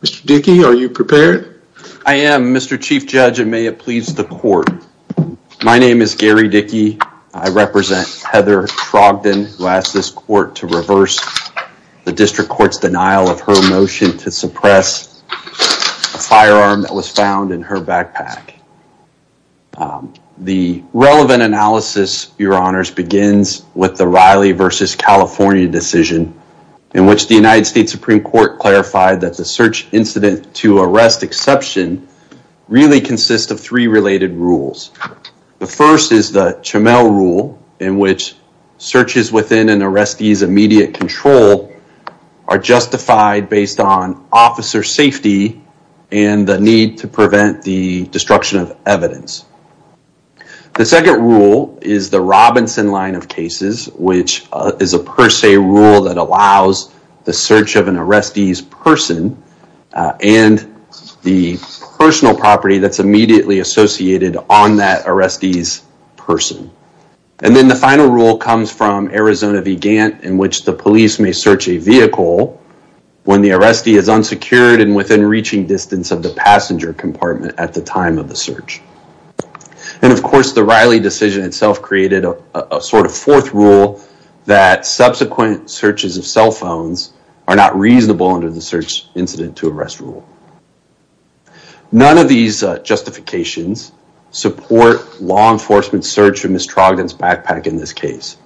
Mr. Dickey are you prepared? I am Mr. Chief Judge and may it please the court. My name is Gary Dickey. I represent Heather Trogdon who asked this court to reverse the district The relevant analysis your honors begins with the Riley versus California decision in which the United States Supreme Court clarified that the search incident to arrest exception really consists of three related rules. The first is the Chamele rule in which searches within an arrestee's immediate control are justified based on officer safety and the need to prevent the The second rule is the Robinson line of cases which is a per se rule that allows the search of an arrestee's person and the personal property that's immediately associated on that arrestee's person. And then the final rule comes from Arizona Vigant in which the police may search a vehicle when the arrestee is unsecured and within reaching distance of the passenger compartment at the time of the search. And of course the Riley decision itself created a sort of fourth rule that subsequent searches of cell phones are not reasonable under the search incident to arrest rule. None of these justifications support law enforcement search of Ms. Trogdon's backpack in this case.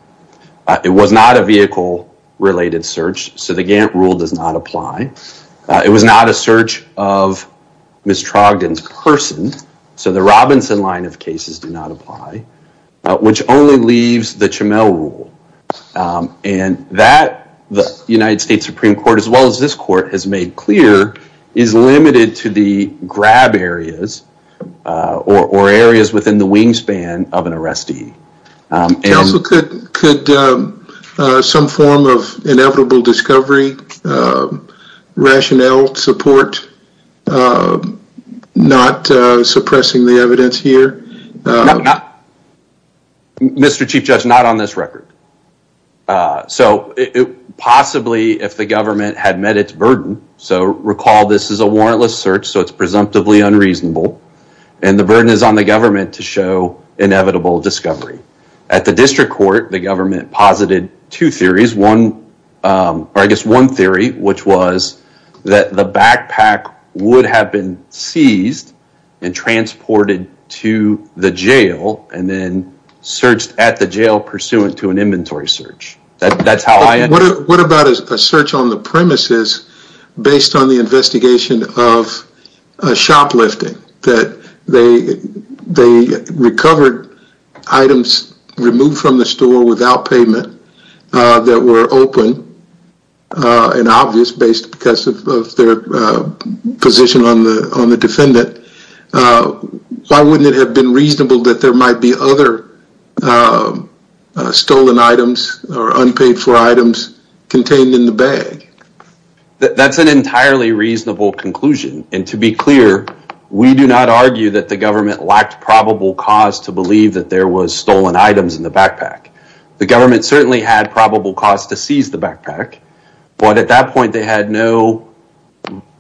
It was not a vehicle related search so the Gantt rule does not apply. It was not a search of Ms. Trogdon's person so the Robinson line of cases do not apply which only leaves the Chamele rule and that the United States Supreme Court as well as this court has made clear is limited to the grab areas or areas within the wingspan of an arrestee. Also could some form of inevitable discovery rationale support not suppressing the evidence here? Mr. Chief Judge not on this record. So it possibly if the government had met its burden so recall this is a warrantless search so it's presumptively unreasonable and the burden is on the government to show inevitable discovery. At the district court the government posited two theories one or I guess one theory which was that the backpack would have been seized and transported to the jail and then searched at the jail pursuant to an inventory search. That's how I... What about a search on the premises based on the investigation of shoplifting that they recovered items removed from the store without payment that were open and obvious based because of their position on the on the defendant. Why wouldn't it have been reasonable that there might be other stolen items or unpaid for items contained in the bag? That's an entirely reasonable conclusion and to be clear we do not argue that the government lacked probable cause to believe that there was stolen items in the backpack. The government certainly had probable cause to seize the backpack but at that point they had no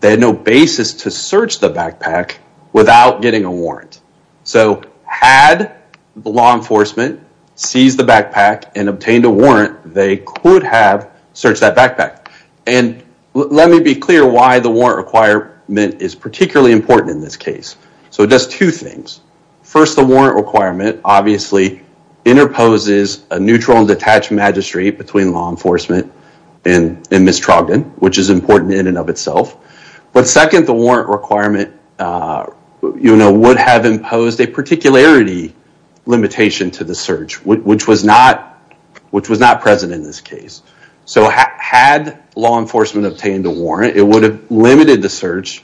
they had no basis to search the backpack without getting a warrant. So had the law enforcement seized the backpack and obtained a warrant they could have searched that backpack and let me be clear why the warrant requirement is particularly important in this case. So it does two things first the warrant requirement obviously interposes a neutral and detached magistrate between law enforcement and Ms. Trogdon which is important in and of itself but second the warrant requirement you know would have imposed a particularity limitation to the search which was not which was not present in this case. So had law enforcement obtained a warrant it would have limited the search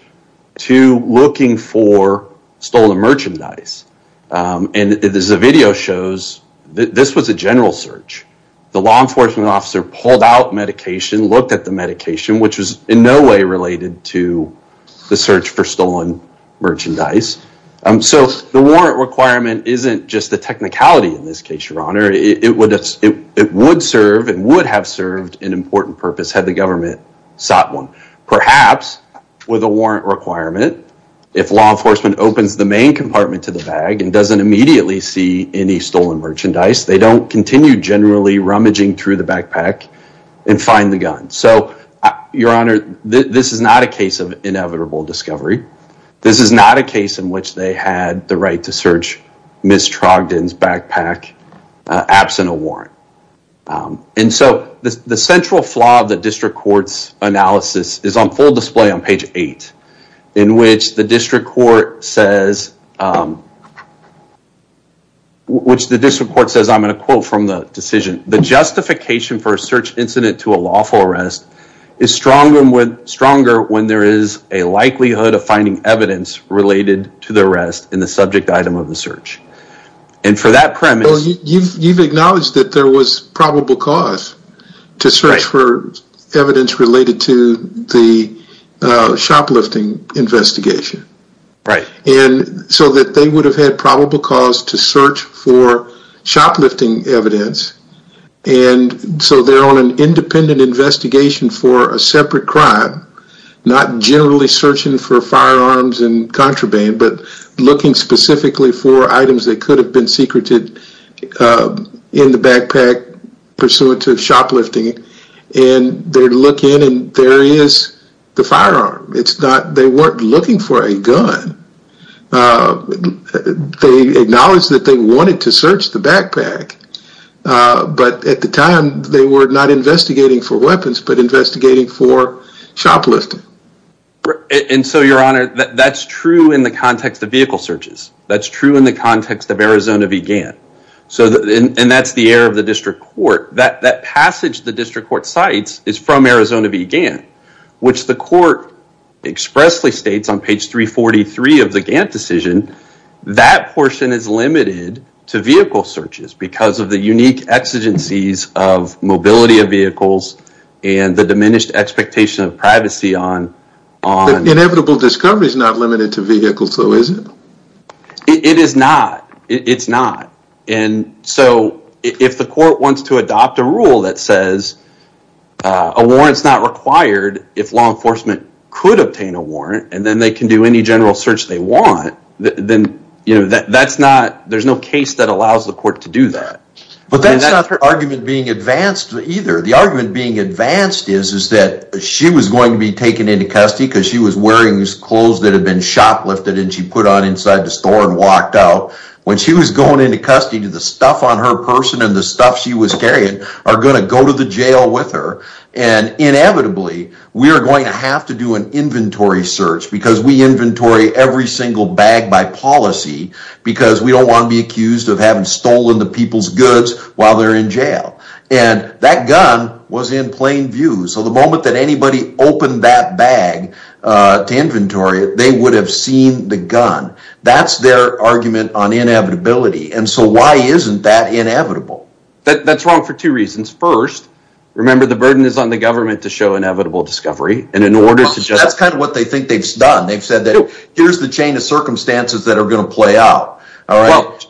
to looking for stolen merchandise and as the video shows this was a general search. The law enforcement officer pulled out medication looked at the medication which was in no way related to the search for stolen merchandise. So the warrant requirement isn't just the technicality in this case your honor it would serve and would have served an important purpose had the government sought one. Perhaps with a warrant requirement if law enforcement opens the main compartment to the bag and doesn't immediately see any stolen merchandise they don't continue generally rummaging through the backpack and find the gun. So your honor this is not a case of inevitable discovery. This is not a case in which they had the right to search Ms. Trogdon's backpack absent a warrant and so the central flaw of the district court's analysis is on full display on page eight in which the district court says which the district court says I'm going to quote from the decision the justification for a search incident to a lawful arrest is stronger when there is a likelihood of finding evidence related to the arrest in the subject item of the search and for that premise you've acknowledged that there was probable cause to search for evidence related to the shoplifting investigation right and so that they would have had probable cause to search for shoplifting evidence and so they're on an independent investigation for a separate crime not generally searching for firearms and contraband but looking specifically for items that could have been secreted in the backpack pursuant to shoplifting and they look and there is the firearm it's not they weren't looking for a gun they acknowledged that they wanted to search the backpack but at the time they were not investigating for weapons but investigating for shoplifting and so your honor that's true in the context of vehicle searches that's true in the context of Arizona Vegan so that and that's the error of the district court that that passage the district court cites is from Arizona Vegan which the court expressly states on page 343 of the Gantt decision that portion is limited to vehicle searches because of the unique exigencies of mobility of vehicles and the diminished expectation of privacy on on inevitable discovery is not limited to vehicles though is it it is not it's not and so if the rule that says a warrant is not required if law enforcement could obtain a warrant and then they can do any general search they want then you know that that's not there's no case that allows the court to do that but that's not her argument being advanced either the argument being advanced is is that she was going to be taken into custody because she was wearing these clothes that had been shoplifted and she put on inside the store and walked out when she was going into she was carrying are going to go to the jail with her and inevitably we are going to have to do an inventory search because we inventory every single bag by policy because we don't want to be accused of having stolen the people's goods while they're in jail and that gun was in plain view so the moment that anybody opened that bag to inventory they would have seen the gun that's their argument on inevitability and so why isn't that inevitable that that's wrong for two reasons first remember the burden is on the government to show inevitable discovery and in order to just that's kind of what they think they've done they've said that here's the chain of circumstances that are going to play out all right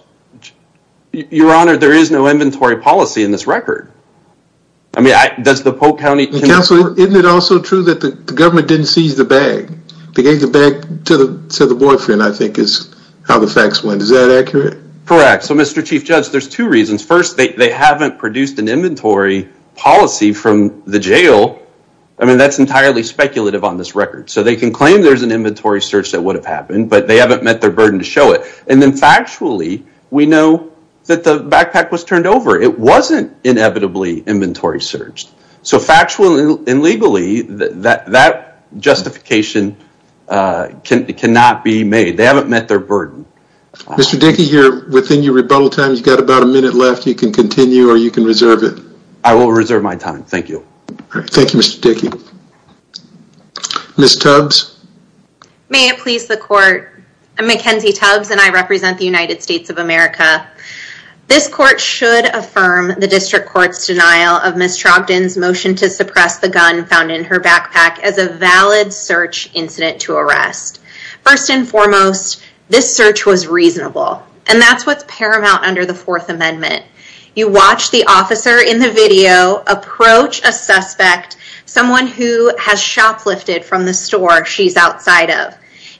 your honor there is no inventory policy in this record i mean i does the polk county council isn't it also true that the government didn't seize the bag they gave the to the to the boyfriend i think is how the facts went is that accurate correct so mr chief judge there's two reasons first they haven't produced an inventory policy from the jail i mean that's entirely speculative on this record so they can claim there's an inventory search that would have happened but they haven't met their burden to show it and then factually we know that the backpack was turned over it wasn't inevitably inventory searched so factual and legally that that justification cannot be made they haven't met their burden mr dickie here within your rebuttal time you got about a minute left you can continue or you can reserve it i will reserve my time thank you all right thank you mr dickie miss tubs may it please the court i'm mackenzie tubs and i represent the united states of america this court should affirm the district court's denial of miss incident to arrest first and foremost this search was reasonable and that's what's paramount under the fourth amendment you watch the officer in the video approach a suspect someone who has shoplifted from the store she's outside of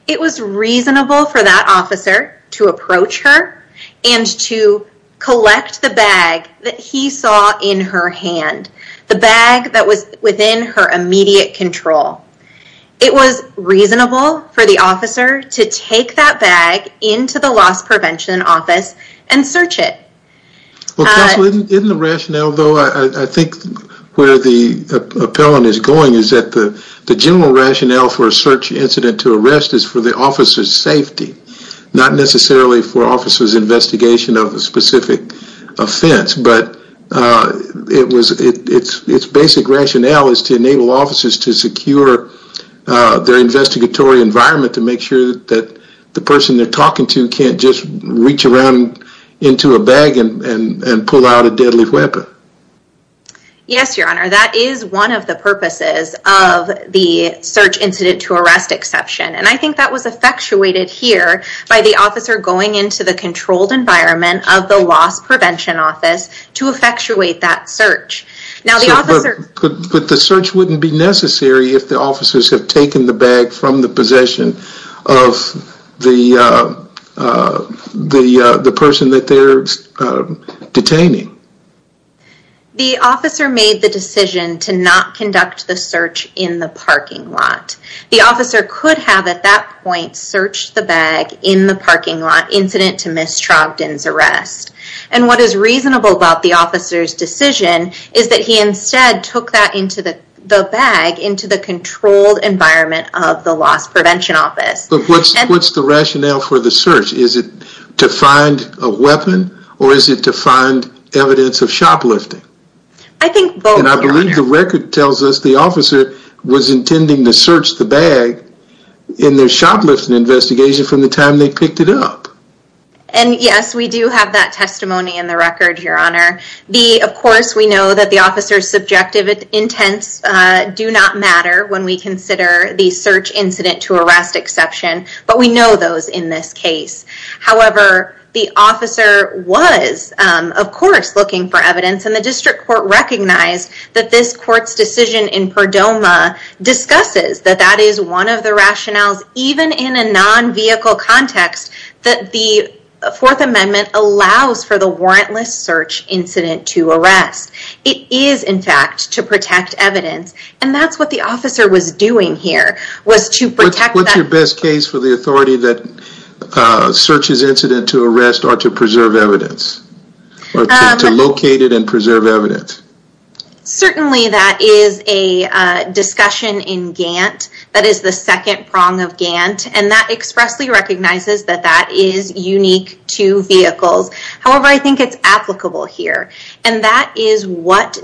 it was reasonable for that officer to approach her and to collect the bag that he saw in her hand the bag that was within her immediate control it was reasonable for the officer to take that bag into the loss prevention office and search it well counsel in the rationale though i i think where the appellant is going is that the the general rationale for a search incident to arrest is for the officer's safety not necessarily for the officer's investigation of a specific offense but uh it was it it's its basic rationale is to enable officers to secure uh their investigatory environment to make sure that the person they're talking to can't just reach around into a bag and and pull out a deadly weapon yes your honor that is one of the purposes of the search incident to arrest exception and i think that was effectuated here by the officer going into the controlled environment of the loss prevention office to effectuate that search now the officer but the search wouldn't be necessary if the officers have taken the bag from the possession of the uh uh the uh the person that they're detaining the officer made the decision to not conduct the search in the parking lot the officer could have at that point searched the bag in the parking lot incident to miss trogdon's arrest and what is reasonable about the officer's decision is that he instead took that into the the bag into the controlled environment of the loss prevention office but what's what's the rationale for the search is it to find a weapon or is it to find evidence of shoplifting i think and i believe the officer was intending to search the bag in their shoplifting investigation from the time they picked it up and yes we do have that testimony in the record your honor the of course we know that the officer's subjective intents uh do not matter when we consider the search incident to arrest exception but we know those in this case however the officer was um of course looking for evidence and the discusses that that is one of the rationales even in a non-vehicle context that the fourth amendment allows for the warrantless search incident to arrest it is in fact to protect evidence and that's what the officer was doing here was to protect what's your best case for the authority that uh searches incident to arrest or to preserve evidence or to locate it and preserve evidence certainly that is a discussion in gant that is the second prong of gant and that expressly recognizes that that is unique to vehicles however i think it's applicable here and that is what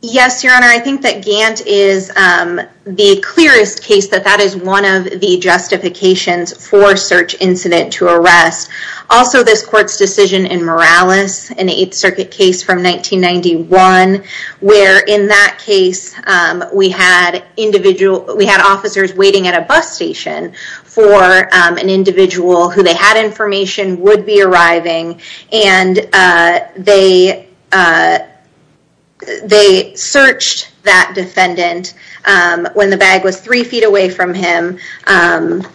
yes your honor i think that gant is um the clearest case that that is one of the justifications for search incident to arrest also this court's decision in morales an eighth circuit case from 1991 where in that case um we had individual we had officers waiting at a bus station for um an they searched that defendant um when the bag was three feet away from him um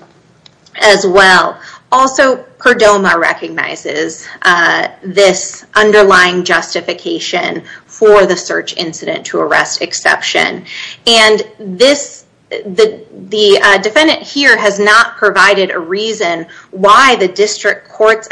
as well also perdomo recognizes uh this underlying justification for the search incident to arrest exception and this the the uh defendant here has not provided a reason why the district court's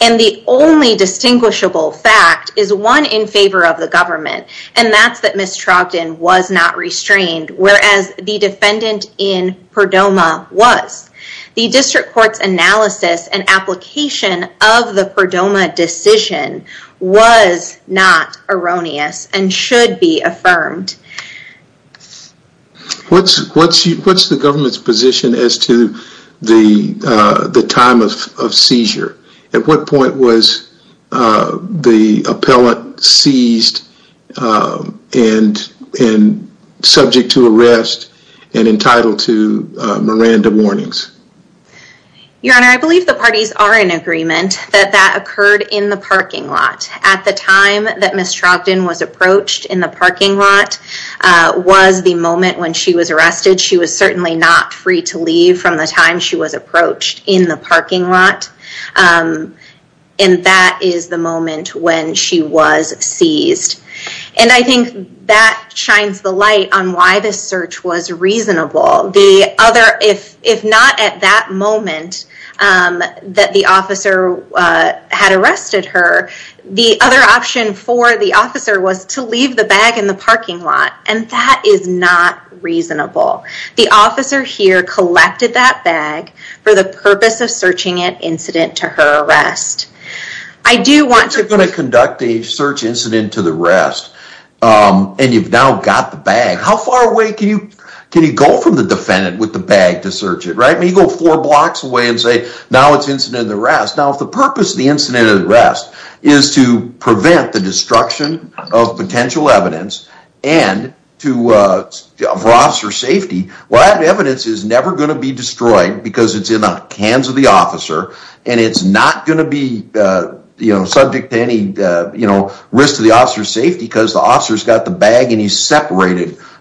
and the only distinguishable fact is one in favor of the government and that's that miss trogdon was not restrained whereas the defendant in perdomo was the district court's analysis and application of the perdomo decision was not erroneous and should be affirmed what's what's what's the government's position as to the uh the time of of seizure at what point was uh the appellant seized um and and subject to arrest and entitled to uh miranda warnings your honor i believe the parties are in agreement that that occurred in the parking lot at the time that miss trogdon was approached in the parking lot uh was the moment when she was arrested she was certainly not free to leave from the time she was approached in the parking lot um and that is the moment when she was seized and i think that shines the light on why this search was reasonable the other if if not at that moment um that the officer uh had arrested her the other option for the officer was to leave the bag in the parking lot and that is not reasonable the officer here collected that bag for the purpose of searching it incident to her arrest i do want you're going to conduct a search incident to the rest um and you've now got the bag how far away can you can you go from the defendant with the bag to search it right you go four blocks away and say now it's incident the rest now if the purpose of the incident of the rest is to prevent the destruction of potential evidence and to uh for officer safety well that evidence is never going to be destroyed because it's in the hands of the officer and it's not going to be uh you know subject to any uh you know risk to the officer's safety because the officer's got the bag and he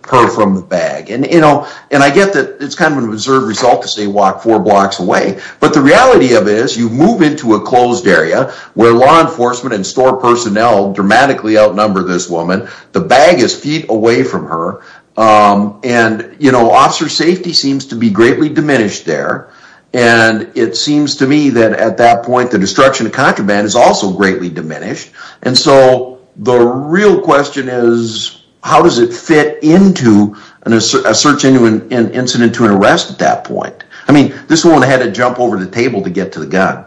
her from the bag and you know and i get that it's kind of an absurd result to say walk four blocks away but the reality of is you move into a closed area where law enforcement and store personnel dramatically outnumber this woman the bag is feet away from her um and you know officer safety seems to be greatly diminished there and it seems to me that at that point the destruction is also greatly diminished and so the real question is how does it fit into a search into an incident to an arrest at that point i mean this one had to jump over the table to get to the gun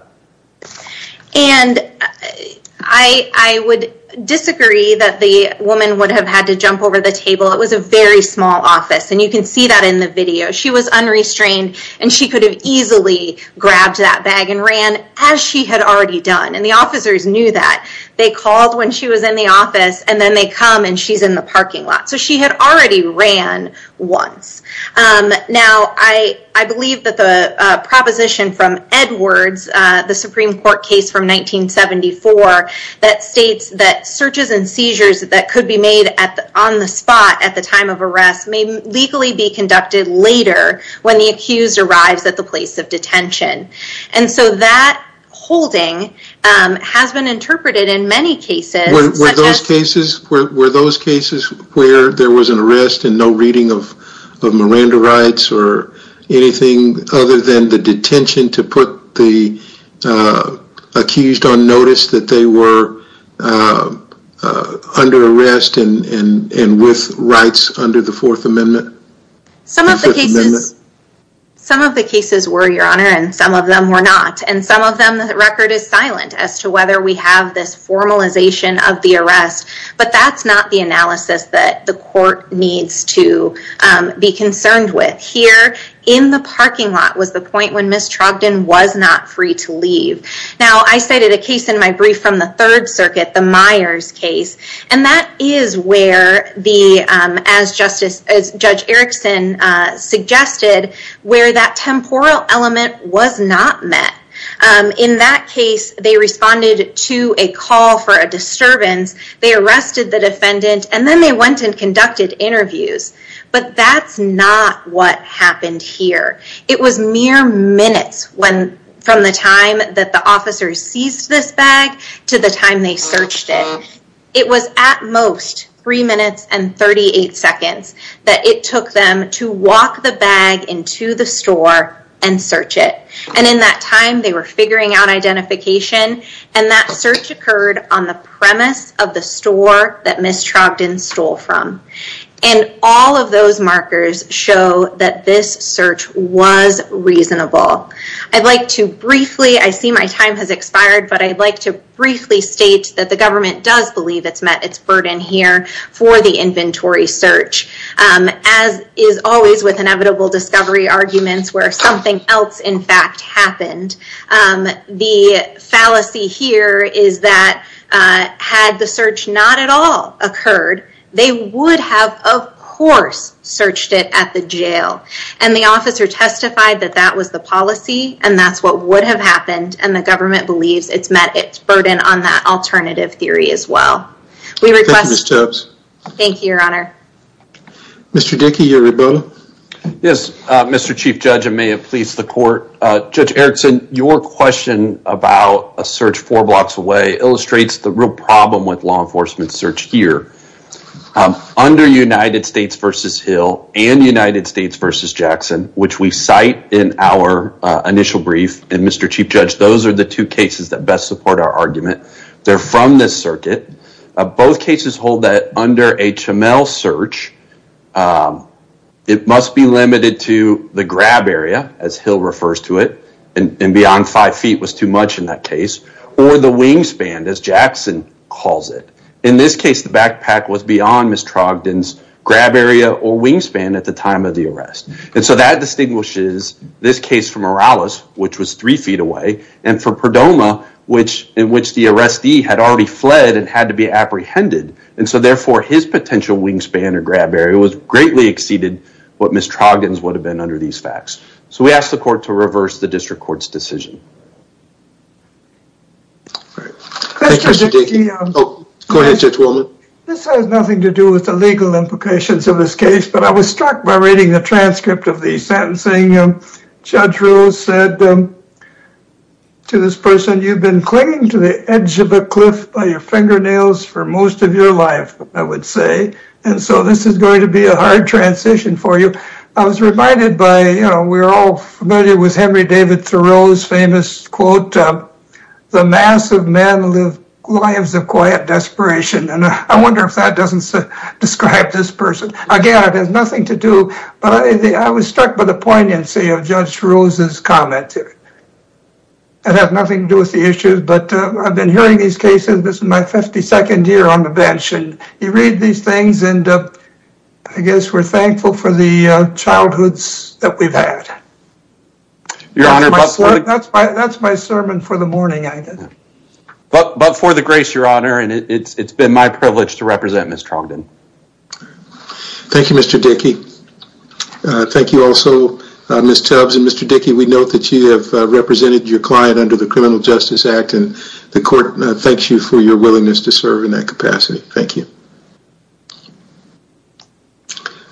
and i i would disagree that the woman would have had to jump over the table it was a very small office and you can see that in the video she was unrestrained and she could have easily grabbed that bag and ran as she had already done and the officers knew that they called when she was in the office and then they come and she's in the parking lot so she had already ran once now i i believe that the uh proposition from edwards uh the supreme court case from 1974 that states that searches and seizures that could be made at on the spot at the time of arrest may legally be conducted later when the accused arrives at the place of detention and so that holding um has been interpreted in many cases were those cases were those cases where there was an arrest and no reading of of miranda rights or anything other than the detention to put the accused on notice that they were under arrest and and and with rights under the fourth amendment some of the cases some of the cases were your honor and some of them were not and some of them the record is silent as to whether we have this formalization of the arrest but that's not the analysis that the court needs to be concerned with here in the parking lot was the point when miss trogdon was not free to leave now i cited a case in my brief from the third circuit the myers case and that is where the um as justice as judge erickson uh suggested where that temporal element was not met um in that case they responded to a call for a disturbance they arrested the defendant and then they went and that's not what happened here it was mere minutes when from the time that the officers seized this bag to the time they searched it it was at most three minutes and 38 seconds that it took them to walk the bag into the store and search it and in that time they were figuring out identification and that search occurred on the premise of the store that miss trogdon stole from and all of those markers show that this search was reasonable i'd like to briefly i see my time has expired but i'd like to briefly state that the government does believe it's met its burden here for the inventory search um as is always with inevitable discovery arguments where something else in fact happened um the fallacy here is that uh had the search not at all occurred they would have of course searched it at the jail and the officer testified that that was the policy and that's what would have happened and the government believes it's met its burden on that alternative theory as well we request thank you your honor mr dickey yes uh mr chief judge i may have pleased the court uh judge erickson your question about a search four blocks away illustrates the real problem with law enforcement search here under united states versus hill and united states versus jackson which we cite in our initial brief and mr chief judge those are the two cases that best support our argument they're from this circuit both cases hold that under hml search it must be and and beyond five feet was too much in that case or the wingspan as jackson calls it in this case the backpack was beyond miss trogdon's grab area or wingspan at the time of the arrest and so that distinguishes this case from morales which was three feet away and for perdoma which in which the arrestee had already fled and had to be apprehended and so therefore his potential wingspan or grab area was greatly exceeded what miss troggins would have been under these facts so we ask the court to reverse the district court's decision all right oh go ahead judge willman this has nothing to do with the legal implications of this case but i was struck by reading the transcript of the sentencing judge rose said to this person you've been clinging to the edge of a cliff by your fingernails for most of your life i would say and so this is going to be a hard transition for you i was reminded by you know we're all familiar with henry david thoreau's famous quote the mass of men live lives of quiet desperation and i wonder if that doesn't describe this person again it has nothing to do but i was struck by the poignancy of judge rose's comment it has nothing to do with the issues but i've been hearing these cases this is my 52nd year on the bench and you read these things and i guess we're thankful for the uh childhoods that we've had your honor that's my that's my sermon for the morning i did but but for the grace your honor and it's it's been my privilege to represent miss trogdon thank you mr dickie uh thank you also uh miss tubs and mr dickie we note that you have represented your client under the criminal justice act and the court thanks you for your time